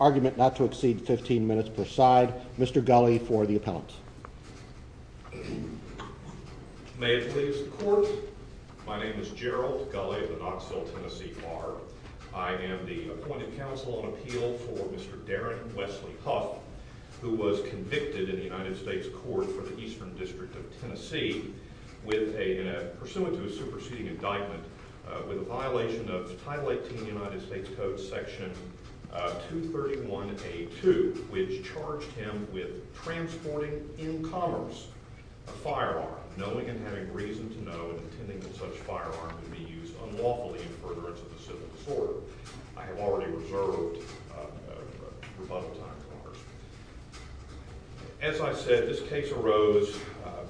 Argument not to exceed 15 minutes per side. Mr. Gulley for the appellant. May it please the court. My name is Gerald Gulley of the Knoxville, Tennessee Bar. I am the appointed counsel on appeal for Mr. Darren Wesley Huff, who was convicted in the United States Court for the Eastern District of Tennessee to go to a superseding indictment with a violation of Title 18 United States Code Section 231A2, which charged him with transporting in commerce a firearm, knowing and having reason to know and intending that such a firearm would be used unlawfully in furtherance of the civil disorder. I have already reserved rebuttal time for Congressman. As I said, this case arose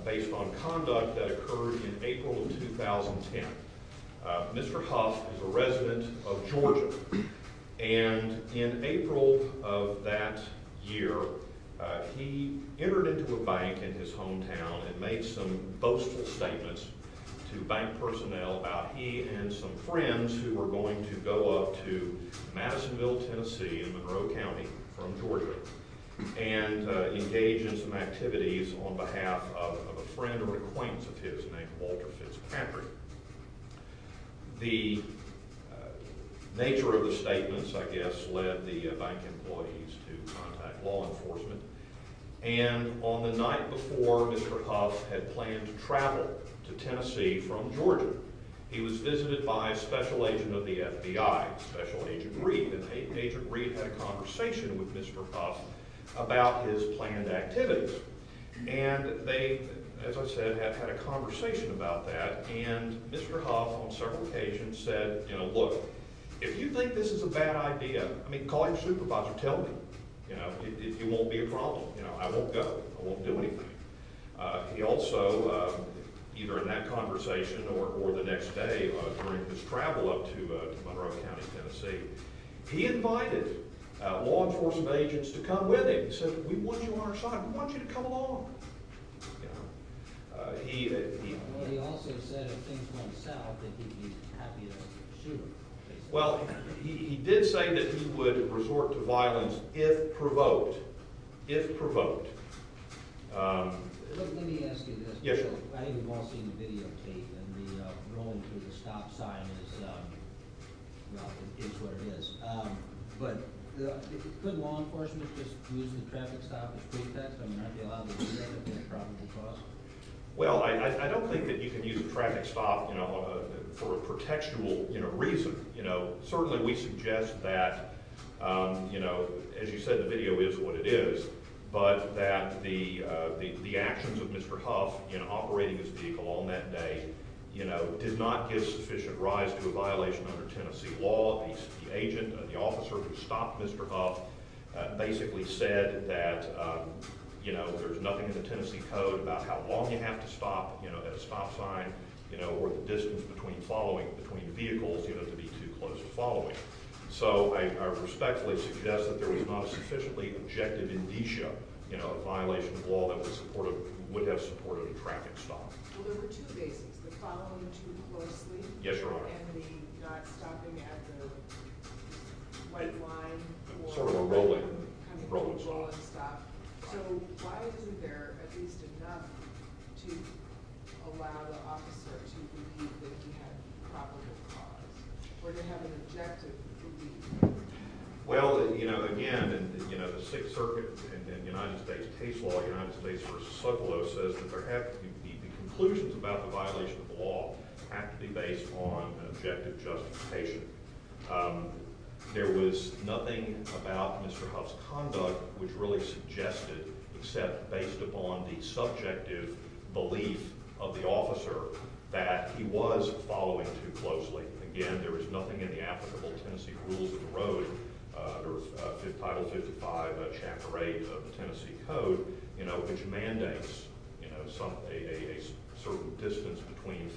based on conduct that occurred in April of 2010. Mr. Huff is a resident of Georgia, and in April of that year, he entered into a bank in his hometown and made some boastful statements to bank personnel about he and some friends who were going to go up to Madisonville, Tennessee in Monroe County from Georgia and engage in some activities on behalf of a friend or an acquaintance of his named Walter Fitzpatrick. The nature of the statements, I guess, led the bank employees to contact law enforcement, and on the night before Mr. Huff had planned to travel to Tennessee from Georgia, he was visited by a special agent of the FBI, Special Agent Reed, and Agent Reed had a conversation with Mr. Huff about his planned activities, and they, as I said, had had a conversation about that, and Mr. Huff on several occasions said, you know, look, if you think this is a bad idea, I mean, call your supervisor, tell him. You know, it won't be a problem. You know, I won't go. I won't do anything. He also, either in that conversation or the next day during his travel up to Monroe County, Tennessee, he invited law enforcement agents to come with him. He said, we want you on our side. We want you to come along. He also said if things went south that he'd be happy to shoot him. Well, he did say that he would resort to violence if provoked, if provoked. Let me ask you this. Yes, sir. I think we've all seen the video tape, and the rolling through the stop sign is, well, it is what it is. But could law enforcement just use the traffic stop as pretext? I mean, aren't they allowed to do that? I mean, it's probably possible. Well, I don't think that you can use a traffic stop, you know, for a pretextual reason. You know, certainly we suggest that, you know, as you said, the video is what it is, but that the actions of Mr. Huff in operating his vehicle on that day, you know, did not give sufficient rise to a violation under Tennessee law. The agent, the officer who stopped Mr. Huff basically said that, you know, there's nothing in the Tennessee code about how long you have to stop, you know, at a stop sign, you know, or the distance between following, between vehicles, you know, to be too close to following. So I respectfully suggest that there was not a sufficiently objective indicia, you know, a violation of law that would have supported a traffic stop. Well, there were two basics, the following too closely. Yes, Your Honor. And the not stopping at the white line. Sort of a rolling, rolling stop. So why isn't there at least enough to allow the officer to believe that he had property of cause or to have an objective belief? Well, you know, again, you know, the Sixth Circuit in the United States case law, United States v. Succo says that the conclusions about the violation of law have to be based on an objective justification. There was nothing about Mr. Huff's conduct which really suggested, except based upon the subjective belief of the officer, that he was following too closely. Again, there was nothing in the applicable Tennessee rules of the road, under Title 55, Chapter 8 of the Tennessee code, you know, which mandates, you know, a certain distance between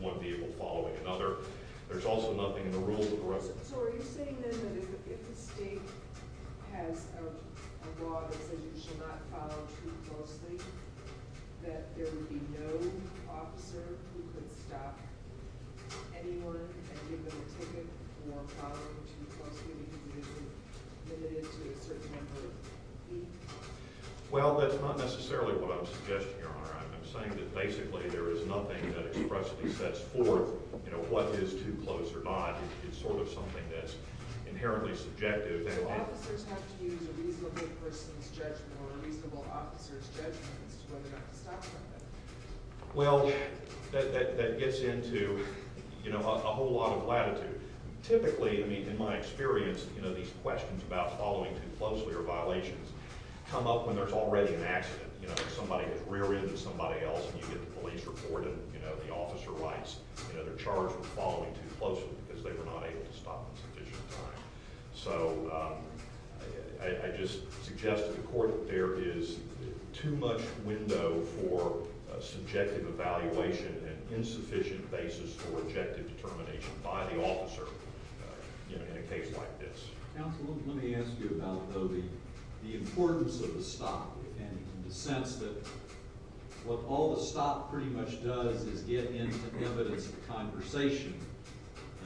one vehicle following another. There's also nothing in the rules of the road. So are you saying then that if the state has a law that says you should not follow too closely, that there would be no officer who could stop anyone and give them a ticket for following too closely because they've been limited to a certain number of feet? Well, that's not necessarily what I'm suggesting, Your Honor. I'm saying that basically there is nothing that expressly sets forth, you know, what is too close or not. It's sort of something that's inherently subjective. So officers have to use a reasonable person's judgment or a reasonable officer's judgment as to whether or not to stop somebody. Well, that gets into, you know, a whole lot of latitude. Typically, I mean, in my experience, you know, these questions about following too closely or violations come up when there's already an accident. You know, somebody has rear-ended somebody else, and you get the police report, and, you know, the officer writes, you know, they're charged with following too closely because they were not able to stop in sufficient time. So I just suggest to the court that there is too much window for subjective evaluation and insufficient basis for objective determination by the officer, you know, in a case like this. Counsel, let me ask you about, though, the importance of a stop, and the sense that what all the stop pretty much does is get into evidence of conversation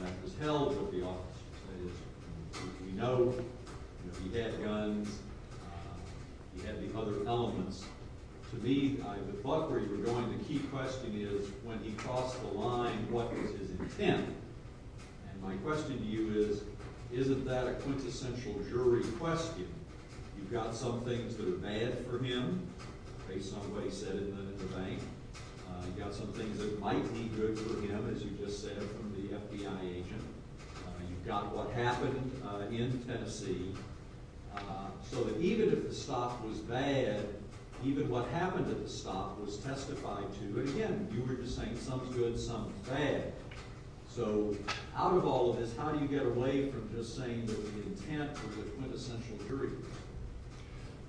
that was held with the officer, that is, you know, he had guns, he had the other elements. To me, with Buck where you were going, the key question is, when he crossed the line, what was his intent? And my question to you is, isn't that a quintessential jury question? You've got some things that are bad for him, based on what he said in the bank. You've got some things that might be good for him, as you just said, from the FBI agent. You've got what happened in Tennessee. So that even if the stop was bad, even what happened at the stop was testified to. But again, you were just saying some is good, some is bad. So out of all of this, how do you get away from just saying that the intent was a quintessential jury?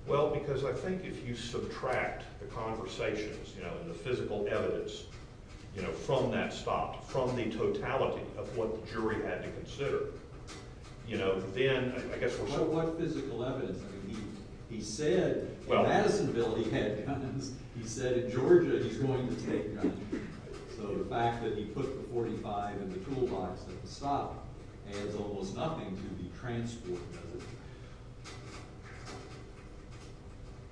Well, because I think if you subtract the conversations, you know, and the physical evidence, you know, from that stop, from the totality of what the jury had to consider, you know, then I guess we're… What physical evidence? I mean, he said in Madisonville he had guns. He said in Georgia he's going to take guns. So the fact that he put the .45 in the toolbox at the stop adds almost nothing to the transport.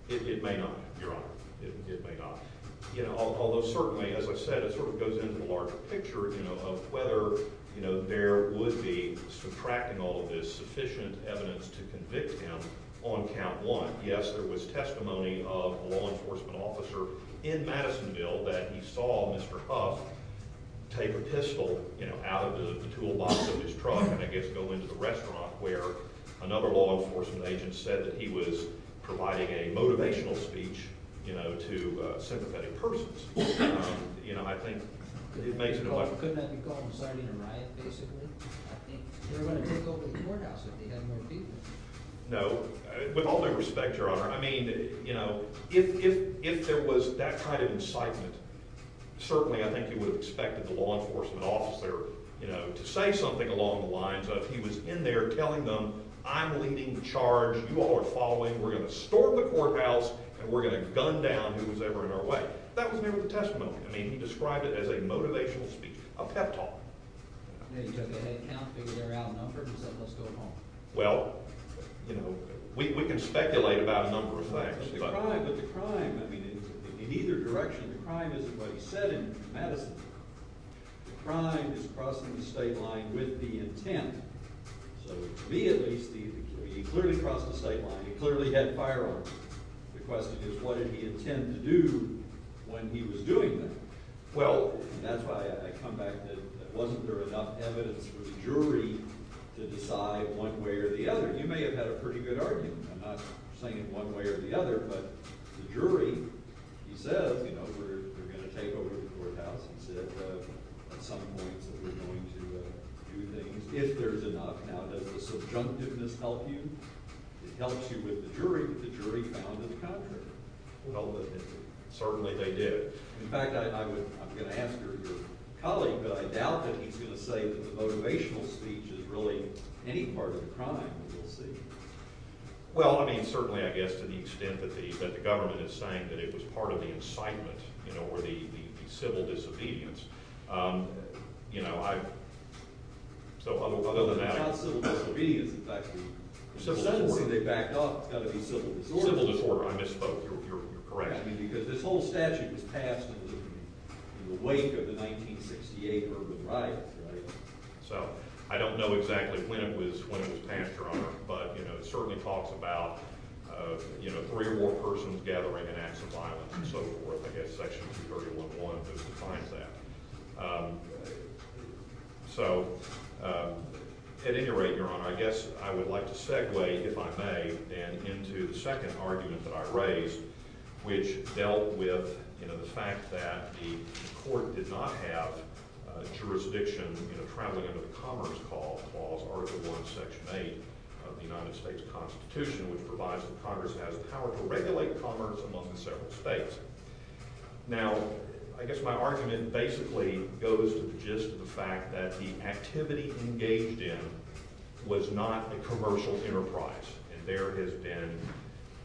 It may not, Your Honor. It may not. You know, although certainly, as I've said, it sort of goes into the larger picture, you know, of whether, you know, there would be, subtracting all of this, sufficient evidence to convict him on count one. Yes, there was testimony of a law enforcement officer in Madisonville that he saw Mr. Huff take a pistol, you know, out of the toolbox of his truck and, I guess, go into the restaurant where another law enforcement agent said that he was providing a motivational speech, you know, to sympathetic persons. You know, I think it makes it a lot… Couldn't that be called inciting a riot, basically? I think they were going to take over the courthouse if they had more people. No. With all due respect, Your Honor, I mean, you know, if there was that kind of incitement, certainly I think you would have expected the law enforcement officer, you know, to say something along the lines of he was in there telling them, I'm leading the charge, you all are following, we're going to storm the courthouse, and we're going to gun down whoever was in our way. That was maybe the testimony. I mean, he described it as a motivational speech, a pep talk. He took a head count, figured out a number, and said, let's go home. Well, you know, we can speculate about a number of things. But the crime, I mean, in either direction, the crime isn't what he said in Madisonville. The crime is crossing the state line with the intent. So to me, at least, he clearly crossed the state line. He clearly had firearms. The question is, what did he intend to do when he was doing that? Well, and that's why I come back to wasn't there enough evidence for the jury to decide one way or the other? You may have had a pretty good argument. I'm not saying one way or the other, but the jury, he says, you know, we're going to take over the courthouse. He said at some point that we're going to do things if there's enough. Now, does the subjunctiveness help you? It helps you with the jury. Well, certainly they did. In fact, I'm going to ask your colleague, but I doubt that he's going to say that the motivational speech is really any part of the crime. We'll see. Well, I mean, certainly, I guess, to the extent that the government is saying that it was part of the incitement, you know, or the civil disobedience. You know, so other than that. Civil disorder, I misspoke. You're correct. I mean, because this whole statute was passed in the wake of the 1968 urban riots, right? So I don't know exactly when it was passed, Your Honor, but, you know, it certainly talks about, you know, three or more persons gathering and acts of violence and so forth. I guess Section 231.1 just defines that. So at any rate, Your Honor, I guess I would like to segue, if I may, into the second argument that I raised, which dealt with, you know, the fact that the court did not have jurisdiction in a traveling under the Commerce Clause, Article I, Section 8 of the United States Constitution, which provides that Congress has power to regulate commerce among several states. Now, I guess my argument basically goes to the gist of the fact that the activity engaged in was not a commercial enterprise. And there has been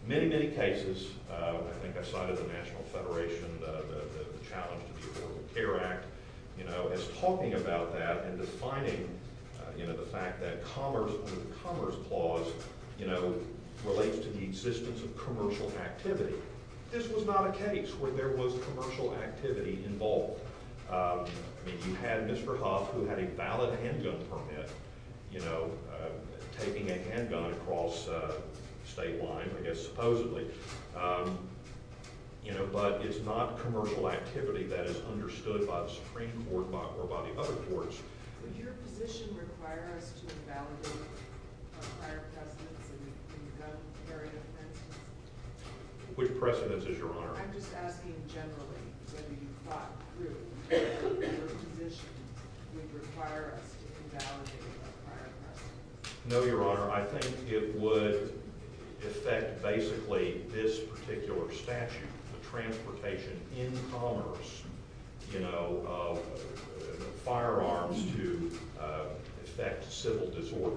many, many cases, I think outside of the National Federation, the challenge to the Affordable Care Act, you know, as talking about that and defining, you know, the fact that commerce under the Commerce Clause, you know, relates to the existence of commercial activity. This was not a case where there was commercial activity involved. I mean, you had Mr. Huff, who had a valid handgun permit, you know, taking a handgun across state line, I guess supposedly, you know, but it's not commercial activity that is understood by the Supreme Court or by the other courts. Would your position require us to invalidate our prior precedence in gun-carrying offenses? Which precedence is your honor? I'm just asking generally whether you thought through whether your position would require us to invalidate our prior precedence. No, your honor. I think it would affect basically this particular statute. The transportation in commerce, you know, of firearms to effect civil disorder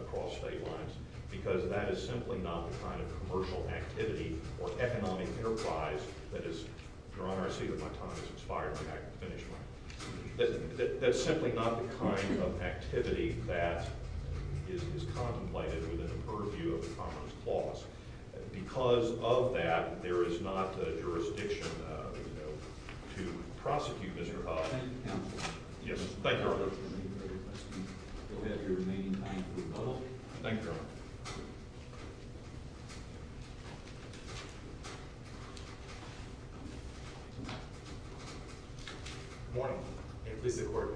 across state lines, because that is simply not the kind of commercial activity or economic enterprise that is – your honor, I see that my time has expired. Let me finish my – that's simply not the kind of activity that is contemplated within the purview of the Commerce Clause. Because of that, there is not a jurisdiction, you know, to prosecute Mr. Huff. Thank you, counsel. Yes, thank you, your honor. Thank you very much. We'll have your remaining time for rebuttal. Thank you, your honor. Good morning. May it please the Court.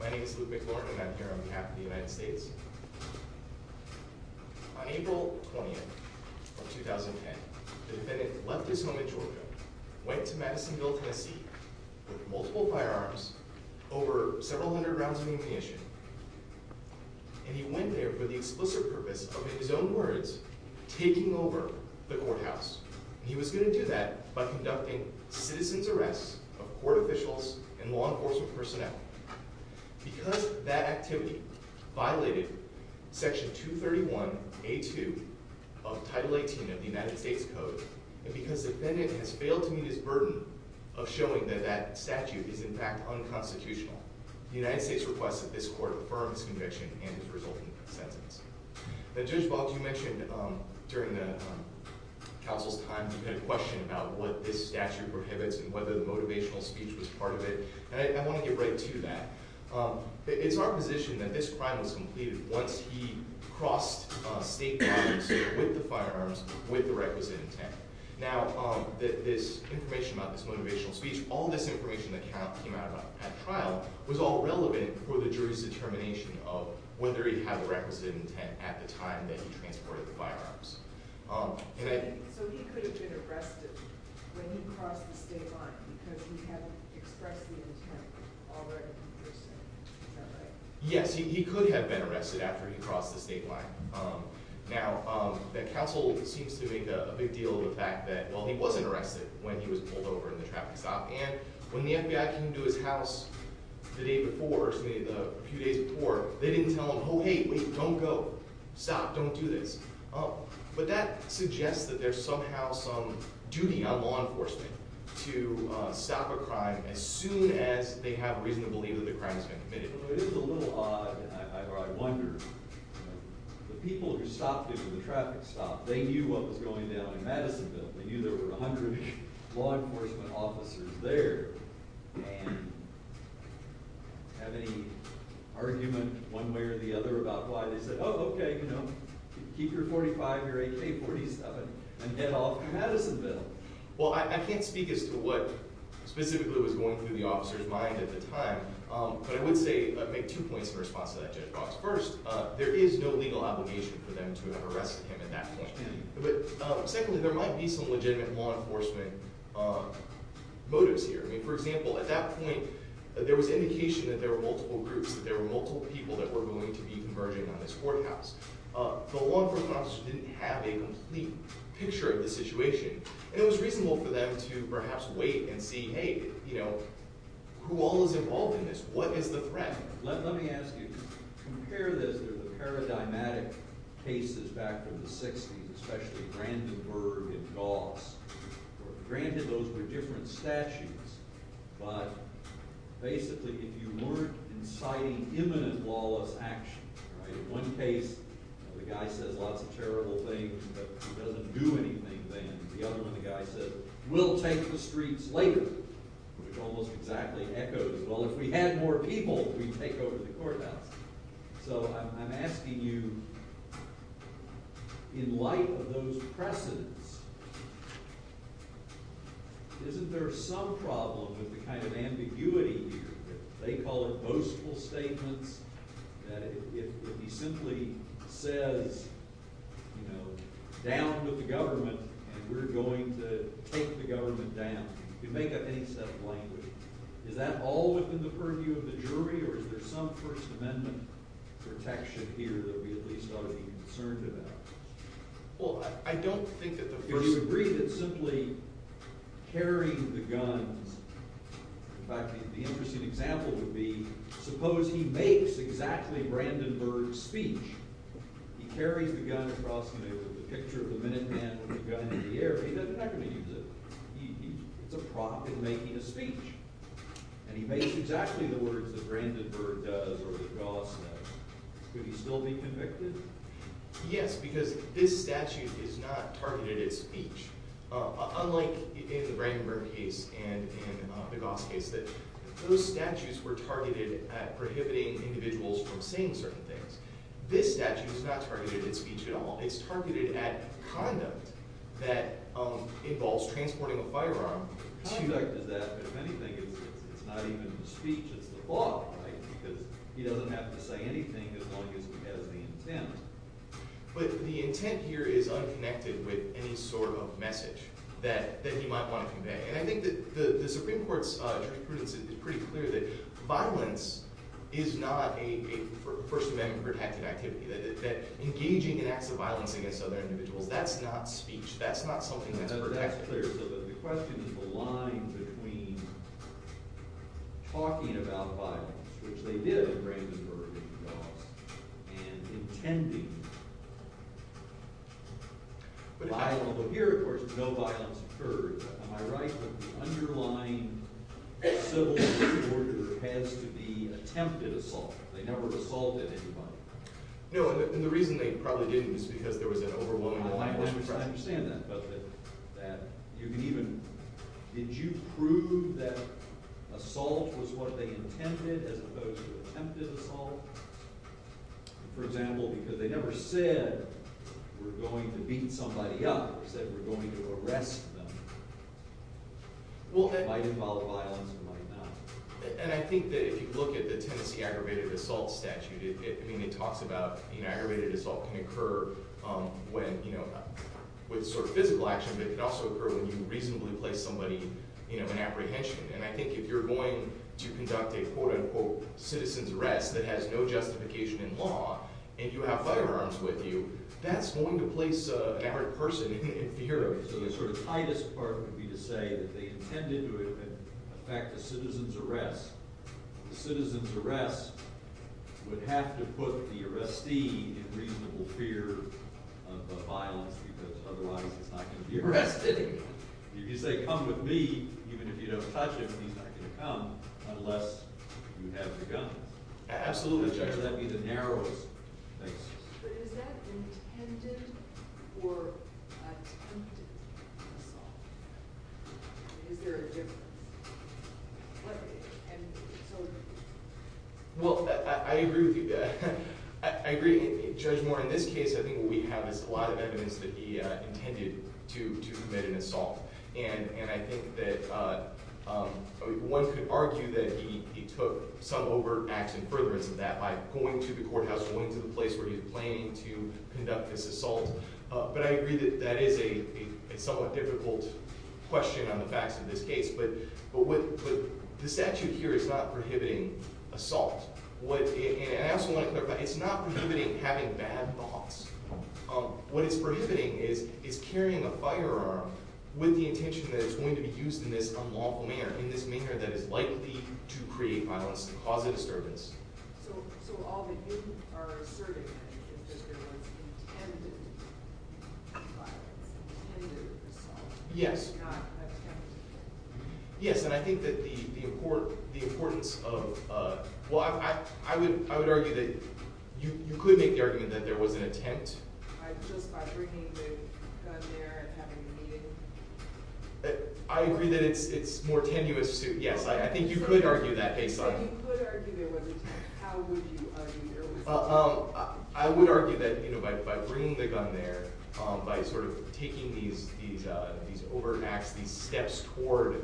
My name is Luke McLaurin, and I'm here on behalf of the United States. On April 20th of 2010, the defendant left his home in Georgia, went to Madisonville, Tennessee with multiple firearms, over several hundred rounds of ammunition, and he went there for the explicit purpose of, in his own words, taking over the courthouse. And he was going to do that by conducting citizen's arrests of court officials and law enforcement personnel. Because that activity violated Section 231A2 of Title 18 of the United States Code, and because the defendant has failed to meet his burden of showing that that statute is, in fact, unconstitutional, the United States requests that this Court affirm his conviction and his resulting sentence. Now, Judge Wald, you mentioned during the counsel's time you had a question about what this statute prohibits and whether the motivational speech was part of it. And I want to get right to that. It's our position that this crime was completed once he crossed state lines with the firearms with the requisite intent. Now, this information about this motivational speech, all this information that came out at trial, was all relevant for the jury's determination of whether he had the requisite intent at the time that he transported the firearms. So he could have been arrested when he crossed the state line because he hadn't expressed the intent already in person. Is that right? Yes, he could have been arrested after he crossed the state line. Now, the counsel seems to make a big deal of the fact that, well, he wasn't arrested when he was pulled over in the traffic stop. And when the FBI came to his house the day before, or excuse me, the few days before, they didn't tell him, oh, hey, wait, don't go. Stop. Don't do this. But that suggests that there's somehow some duty on law enforcement to stop a crime as soon as they have reason to believe that the crime has been committed. It is a little odd, or I wonder. The people who stopped him at the traffic stop, they knew what was going down in Madisonville. They knew there were 100 law enforcement officers there. And have any argument one way or the other about why they said, oh, OK, you know, keep your 45, your AK-47 and get off to Madisonville? Well, I can't speak as to what specifically was going through the officer's mind at the time. But I would say I make two points in response to that, Judge Cox. First, there is no legal obligation for them to have arrested him at that point. But secondly, there might be some legitimate law enforcement motives here. I mean, for example, at that point, there was indication that there were multiple groups, that there were multiple people that were going to be converging on this courthouse. The law enforcement officer didn't have a complete picture of the situation. And it was reasonable for them to perhaps wait and see, hey, you know, who all is involved in this? What is the threat? Let me ask you, compare this to the paradigmatic cases back in the 60s, especially Brandenburg and Goss. Granted, those were different statutes. But basically, if you weren't inciting imminent lawless action, right? In one case, the guy says lots of terrible things, but he doesn't do anything then. The other one, the guy says, we'll take the streets later, which almost exactly echoes, well, if we had more people, we'd take over the courthouse. So I'm asking you, in light of those precedents, isn't there some problem with the kind of ambiguity here? They call it boastful statements, that if he simply says, you know, down with the government, and we're going to take the government down, you make up any set of language. Is that all within the purview of the jury, or is there some First Amendment protection here that we at least ought to be concerned about? Well, I don't think that the First— Do you agree that simply carrying the guns—in fact, the interesting example would be, suppose he makes exactly Brandenburg's speech. He carries the gun across the room with a picture of the Minuteman with the gun in the air. He's not going to use it. It's a prop in making a speech. And he makes exactly the words that Brandenburg does or that Goss does. Could he still be convicted? Yes, because this statute is not targeted at speech. Unlike in the Brandenburg case and the Goss case, that those statutes were targeted at prohibiting individuals from saying certain things. This statute is not targeted at speech at all. It's targeted at conduct that involves transporting a firearm to— Conduct is that, but if anything, it's not even the speech. It's the law, right? Because he doesn't have to say anything as long as he has the intent. But the intent here is unconnected with any sort of message that he might want to convey. And I think that the Supreme Court's jurisprudence is pretty clear that violence is not a First Amendment protected activity. That engaging in acts of violence against other individuals, that's not speech. That's not something that's protected. So the question is the line between talking about violence, which they did in Brandenburg and Goss, and intending violence. Although here, of course, no violence occurred. Am I right that the underlying civil order has to be attempted assault? They never assaulted anybody. No, and the reason they probably didn't is because there was an overwhelming line between— I understand that, but that you can even— Did you prove that assault was what they intended as opposed to attempted assault? For example, because they never said we're going to beat somebody up. They said we're going to arrest them. Well, that might involve violence. It might not. And I think that if you look at the Tennessee Aggravated Assault Statute, it talks about— Aggravated assault can occur with sort of physical action, but it can also occur when you reasonably place somebody in apprehension. And I think if you're going to conduct a quote-unquote citizen's arrest that has no justification in law and you have firearms with you, that's going to place an arrested person in fear. So the sort of tightest part would be to say that they intended to affect a citizen's arrest. The citizen's arrest would have to put the arrestee in reasonable fear of violence because otherwise it's not going to be arrested. If you say, come with me, even if you don't touch him, he's not going to come unless you have the guns. Absolutely, Judge. That would be the narrowest thing. But is that intended or attempted assault? Is there a difference? Well, I agree with you. I agree, Judge Moore. In this case, I think what we have is a lot of evidence that he intended to commit an assault. And I think that one could argue that he took some overt acts in furtherance of that by going to the courthouse, going to the place where he was planning to conduct this assault. But I agree that that is a somewhat difficult question on the facts of this case. But the statute here is not prohibiting assault. And I also want to clarify, it's not prohibiting having bad thoughts. What it's prohibiting is carrying a firearm with the intention that it's going to be used in this unlawful manner, in this manner that is likely to create violence and cause a disturbance. So all that you are asserting is that there was intended violence, intended assault, not attempted? Yes, and I think that the importance of – well, I would argue that you could make the argument that there was an attempt. Just by bringing the gun there and having it needed? I agree that it's more tenuous. Yes, I think you could argue that baseline. You could argue there was an attempt. How would you argue there was an attempt? I would argue that by bringing the gun there, by sort of taking these overt acts, these steps toward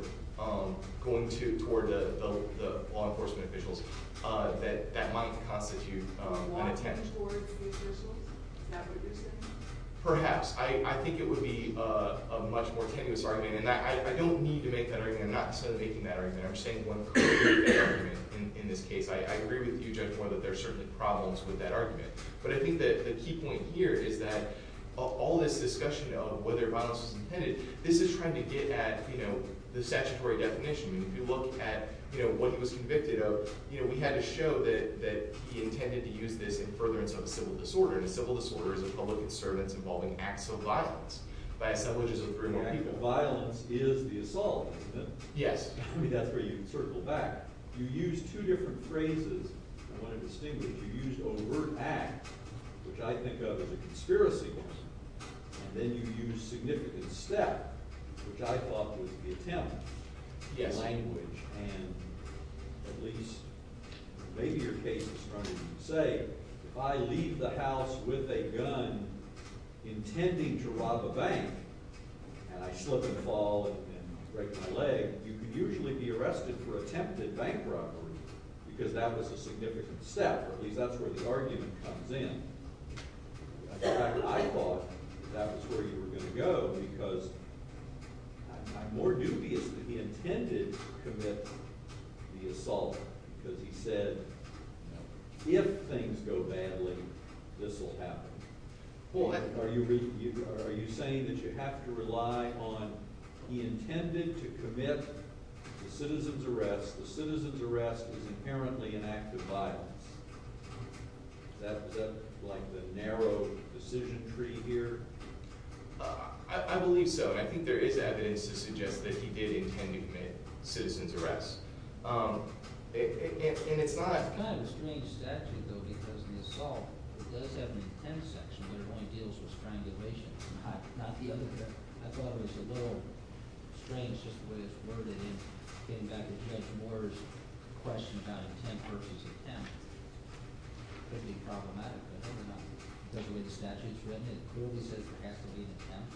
going toward the law enforcement officials, that that might constitute an attempt. Walking toward the officials? Is that what you're saying? Perhaps. I think it would be a much more tenuous argument. I don't need to make that argument. I'm not necessarily making that argument. I'm just saying one particular argument in this case. I agree with you, Judge Moore, that there are certainly problems with that argument. But I think the key point here is that all this discussion of whether violence was intended, this is trying to get at the statutory definition. If you look at what he was convicted of, we had to show that he intended to use this in furtherance of a civil disorder. And a civil disorder is a public disturbance involving acts of violence by assemblages of three or more people. Actual violence is the assault, isn't it? Yes. I mean, that's where you circle back. You used two different phrases. I want to distinguish. You used overt act, which I think of as a conspiracy. And then you used significant step, which I thought was the attempt. Yes. And at least maybe your case is stronger than you say. If I leave the house with a gun intending to rob a bank and I slip and fall and break my leg, you could usually be arrested for attempted bank robbery because that was a significant step. At least that's where the argument comes in. I thought that was where you were going to go because I'm more dubious that he intended to commit the assault because he said if things go badly, this will happen. Are you saying that you have to rely on he intended to commit the citizen's arrest? The citizen's arrest was inherently an act of violence. Is that like the narrow decision tree here? I believe so, and I think there is evidence to suggest that he did intend to commit citizen's arrest. And it's not – It's kind of a strange statute, though, because the assault, it does have an intent section, but it only deals with strangulation. Not the other – I thought it was a little strange just the way it's worded and getting back to Judge Moore's question about intent versus attempt. It could be problematic, but I don't know. Because of the way the statute is written, it clearly says there has to be an attempt.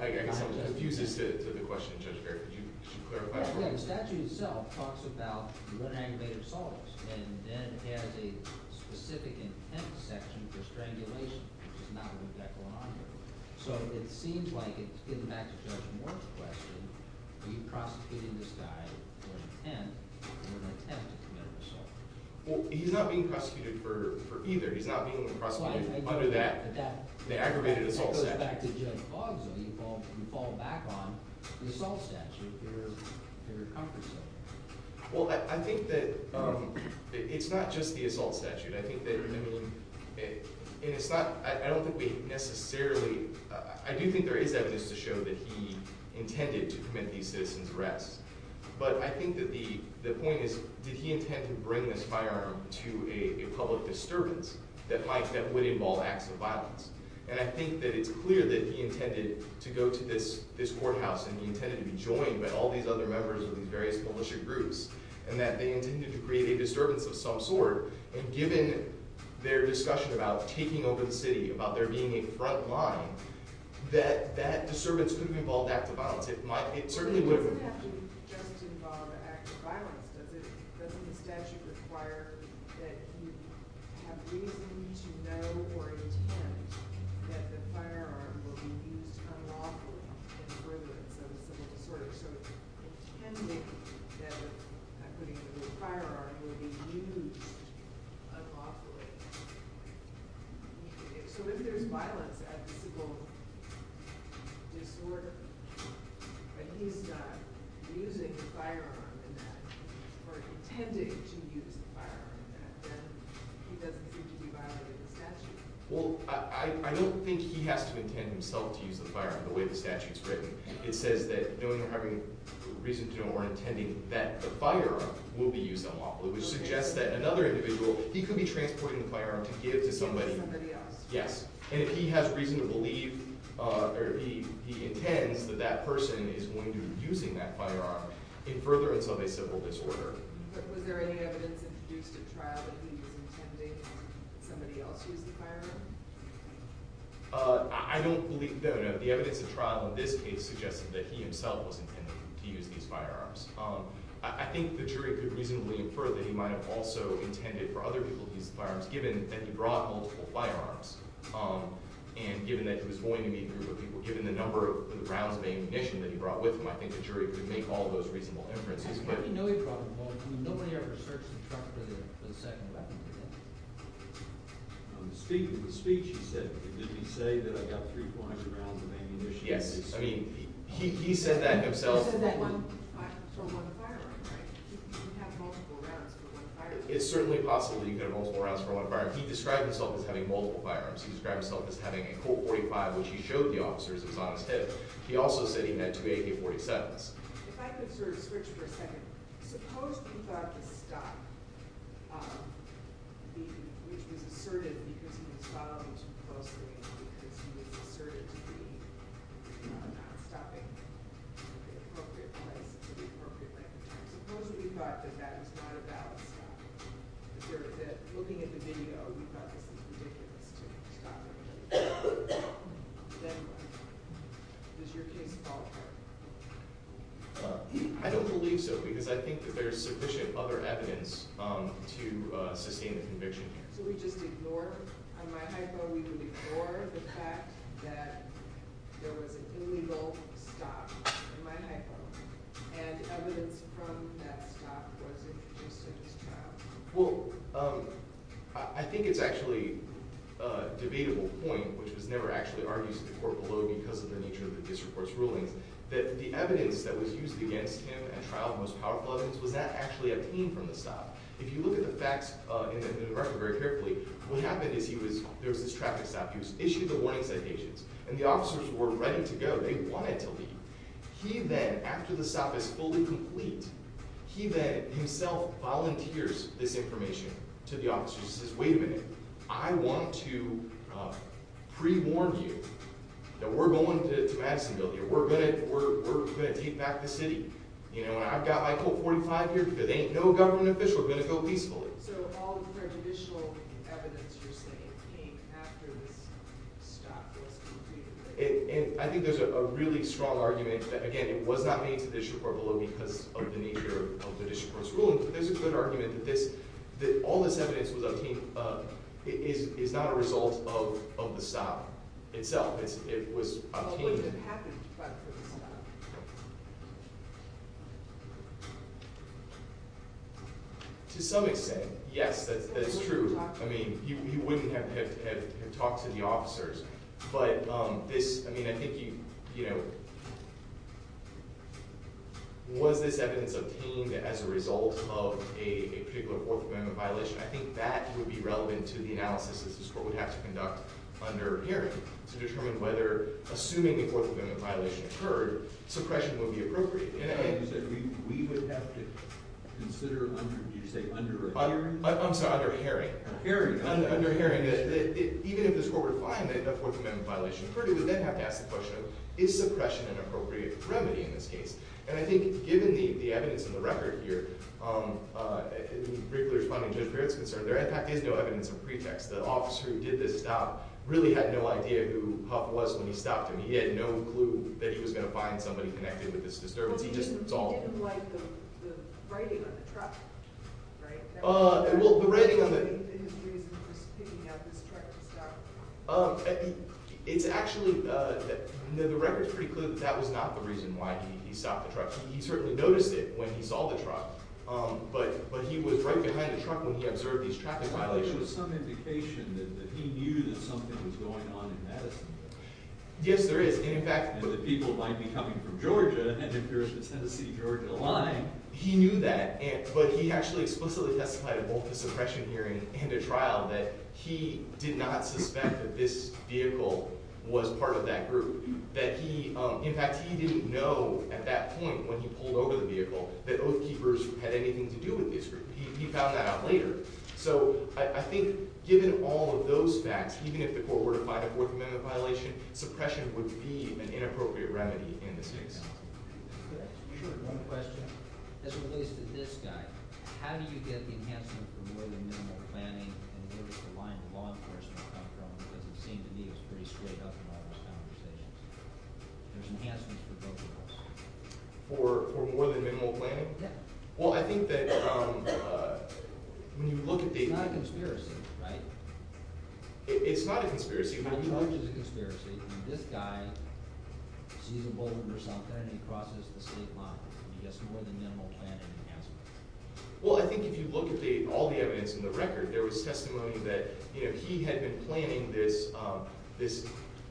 I guess I'm confused as to the question, Judge Barrett. Could you clarify for us? Well, the statute itself talks about you run an aggravated assault, and then it has a specific intent section for strangulation, which is not what we've got going on here. So it seems like, getting back to Judge Moore's question, are you prosecuting this guy for intent or an attempt to commit an assault? Well, he's not being prosecuted for either. He's not being prosecuted under that, the aggravated assault statute. Getting back to Judge Boggs, though, you fall back on the assault statute, your comfort zone. Well, I think that it's not just the assault statute. I think that, I mean – and it's not – I don't think we necessarily – I do think there is evidence to show that he intended to commit these citizen's arrests. But I think that the point is, did he intend to bring this firearm to a public disturbance that might – that would involve acts of violence? And I think that it's clear that he intended to go to this courthouse, and he intended to be joined by all these other members of these various militia groups, and that they intended to create a disturbance of some sort. And given their discussion about taking over the city, about there being a front line, that that disturbance could have involved acts of violence. It doesn't have to just involve acts of violence, does it? Doesn't the statute require that you have reason to know or intend that the firearm will be used unlawfully in the presence of a civil disorder? So, intending that – I'm putting the word firearm – will be used unlawfully. So if there's violence at the civil disorder, and he's not using the firearm in that – or intending to use the firearm in that, then he doesn't seem to be violating the statute. Well, I don't think he has to intend himself to use the firearm, the way the statute's written. It says that knowing or having reason to know or intending that the firearm will be used unlawfully, which suggests that another individual, he could be transporting the firearm to give to somebody. Somebody else. Yes. And if he has reason to believe or he intends that that person is going to be using that firearm in furtherance of a civil disorder. Was there any evidence introduced at trial that he was intending somebody else use the firearm? I don't believe – no, no. The evidence at trial in this case suggested that he himself was intending to use these firearms. I think the jury could reasonably infer that he might have also intended for other people to use the firearms, given that he brought multiple firearms. And given that he was going to be a group of people, given the number of rounds of ammunition that he brought with him, I think the jury could make all those reasonable inferences. How do you know he brought them all? I mean, nobody ever searched the truck for the second weapon. Speaking of the speech, he said, did he say that I got 300, 400 rounds of ammunition? Yes. I mean, he said that himself. He said that one – from one firearm, right? You can have multiple rounds for one firearm. It's certainly possible that you can have multiple rounds for one firearm. He described himself as having multiple firearms. He described himself as having a Colt .45, which he showed the officers his honest head. He also said he had two AK-47s. If I could sort of switch for a second. Suppose we thought to stop the – which was asserted because he was following too closely and because he was asserted to be not stopping at the appropriate place at the appropriate length of time. Suppose we thought that that was not a valid stop. If you're looking at the video, we thought this was ridiculous to stop him. Does your case fall apart? I don't believe so because I think that there's sufficient other evidence to sustain the conviction. So we just ignore – on my hypo, we would ignore the fact that there was an illegal stop on my hypo. And evidence from that stop wasn't produced at his trial. Well, I think it's actually a debatable point, which was never actually argued in the court below because of the nature of the district court's rulings, that the evidence that was used against him at trial, the most powerful evidence, was that actually obtained from the stop. If you look at the facts in the direction very carefully, what happened is he was – there was this traffic stop. He was issued the warning citations. And the officers were ready to go. They wanted to leave. He then, after the stop is fully complete, he then himself volunteers this information to the officers. He says, wait a minute. I want to pre-warn you that we're going to Madisonville here. We're going to take back the city. I've got my Colt 45 here. There ain't no government official. We're going to go peacefully. So all the prejudicial evidence you're saying came after this stop was completed? And I think there's a really strong argument that, again, it was not made to the district court below because of the nature of the district court's rulings. But there's a clear argument that this – that all this evidence was obtained – is not a result of the stop itself. It was obtained – But what happened after the stop? To some extent, yes, that's true. I mean, you wouldn't have talked to the officers. But this – I mean, I think you – you know, was this evidence obtained as a result of a particular Fourth Amendment violation? I think that would be relevant to the analysis that this court would have to conduct under hearing to determine whether – suppression would be appropriate. You said we would have to consider under – did you say under a hearing? I'm sorry, under hearing. Hearing. Under hearing. Even if this court were to find that a Fourth Amendment violation occurred, it would then have to ask the question of, is suppression an appropriate remedy in this case? And I think given the evidence in the record here, in briefly responding to the parents' concern, there in fact is no evidence of pretext. The officer who did this stop really had no idea who Huff was when he stopped him. He had no clue that he was going to find somebody connected with this disturbance. He just – it's all – Well, he didn't like the writing on the truck, right? Well, the writing on the – He didn't believe that his reason for picking up his truck to stop him. It's actually – the record's pretty clear that that was not the reason why he stopped the truck. He certainly noticed it when he saw the truck, but he was right behind the truck when he observed these traffic violations. There was some indication that he knew that something was going on in Madison. Yes, there is. And, in fact – And that people might be coming from Georgia, and if there is a Tennessee-Georgia line. He knew that, but he actually explicitly testified at both a suppression hearing and a trial that he did not suspect that this vehicle was part of that group. That he – in fact, he didn't know at that point when he pulled over the vehicle that Oath Keepers had anything to do with this group. He found that out later. So, I think given all of those facts, even if the court were to find a Fourth Amendment violation, suppression would be an inappropriate remedy in this case. Could I ask you one question? As it relates to this guy, how do you get the enhancement for more than minimal planning? And where does the line to law enforcement come from? Because it seemed to me it was pretty straight up in all those conversations. There's enhancements for both of those. For more than minimal planning? Yeah. Well, I think that when you look at the – It's not a conspiracy, right? It's not a conspiracy. The charge is a conspiracy. This guy sees a boulder or something and he crosses the state line. He gets more than minimal planning enhancement. Well, I think if you look at all the evidence in the record, there was testimony that he had been planning this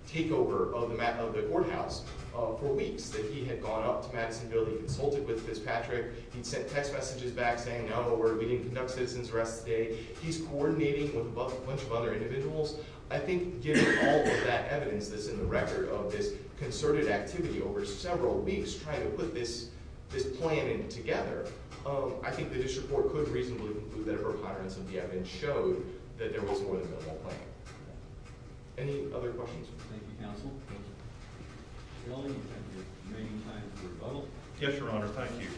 takeover of the courthouse for weeks. That he had gone up to Madison Building, consulted with Fitzpatrick. He'd sent text messages back saying, no, we didn't conduct citizen's rest today. He's coordinating with a bunch of other individuals. I think given all of that evidence that's in the record of this concerted activity over several weeks, trying to put this plan in together, I think the district court could reasonably conclude that it was a higher incentive and showed that there was more than minimal planning. Any other questions? Thank you, counsel. Welding, you have your remaining time for rebuttal. Yes, Your Honor. Thank you.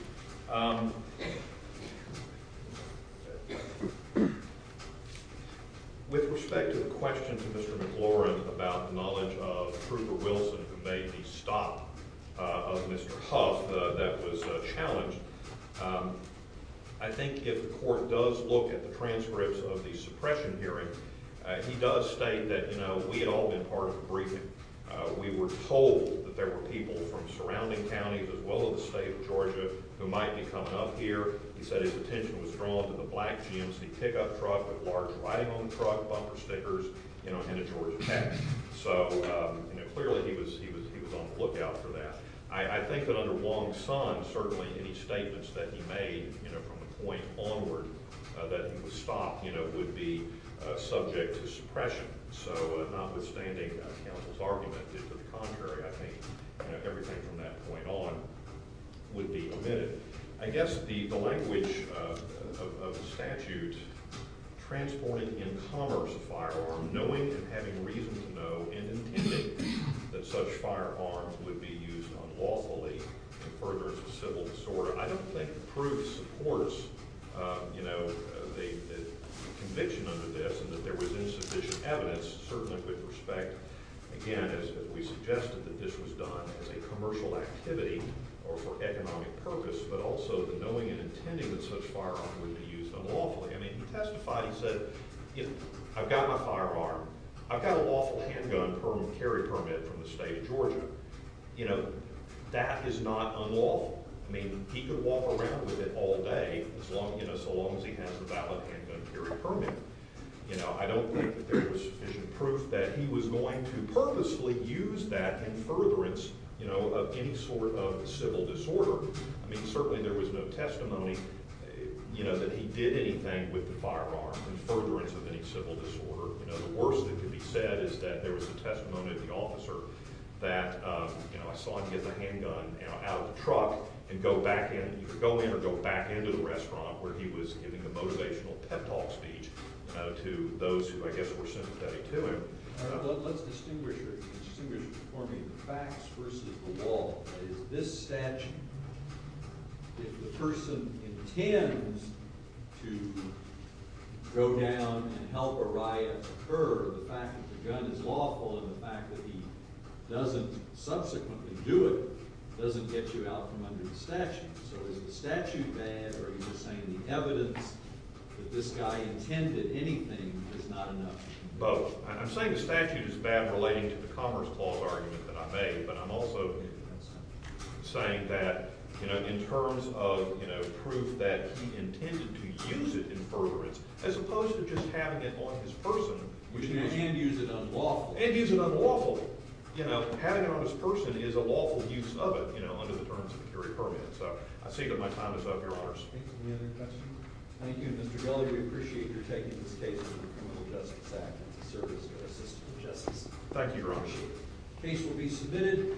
With respect to the question to Mr. McLaurin about the knowledge of Trooper Wilson who made the stop of Mr. Huff that was challenged, I think if the court does look at the transcripts of the suppression hearing, he does state that, you know, we had all been part of the briefing. We were told that there were people from surrounding counties as well as the state of Georgia who might be coming up here. He said his attention was drawn to the black GMC pickup truck, the large riding home truck, bumper stickers, you know, and the Georgia Tech. So, you know, clearly he was on the lookout for that. I think that under Wong's son, certainly any statements that he made, you know, from the point onward that he was stopped, you know, would be subject to suppression. So notwithstanding counsel's argument that to the contrary, I think, you know, everything from that point on would be omitted. I guess the language of the statute transporting in commerce a firearm, knowing and having reason to know, and intending that such firearms would be used unlawfully to further its civil disorder, I don't think the proof supports, you know, the conviction under this and that there was insufficient evidence. Certainly with respect, again, as we suggested that this was done as a commercial activity or for economic purpose, but also the knowing and intending that such firearms would be used unlawfully. I mean, he testified, he said, you know, I've got my firearm. I've got a lawful handgun carry permit from the state of Georgia. You know, that is not unlawful. I mean, he could walk around with it all day, you know, so long as he has the valid handgun carry permit. You know, I don't think that there was sufficient proof that he was going to purposely use that in furtherance, you know, of any sort of civil disorder. I mean, certainly there was no testimony, you know, that he did anything with the firearm in furtherance of any civil disorder. You know, the worst that could be said is that there was a testimony of the officer that, you know, I saw him get the handgun, you know, out of the truck and go back in. And he could go in or go back into the restaurant where he was giving the motivational pep talk speech to those who, I guess, were sympathetic to him. All right, let's distinguish here. Distinguish for me the facts versus the law. That is, this statute, if the person intends to go down and help a riot occur, the fact that the gun is lawful and the fact that he doesn't subsequently do it doesn't get you out from under the statute. So is the statute bad, or are you just saying the evidence that this guy intended anything is not enough? Both. I'm saying the statute is bad relating to the Commerce Clause argument that I made, but I'm also saying that, you know, in terms of, you know, proof that he intended to use it in furtherance, as opposed to just having it on his person. And use it unlawfully. And use it unlawfully. So, you know, having it on his person is a lawful use of it, you know, under the terms of a jury permit. So I see that my time is up, Your Honors. Any other questions? Thank you, Mr. Geller. We appreciate your taking this case for the Criminal Justice Act as a service to our system of justice. The case will be submitted.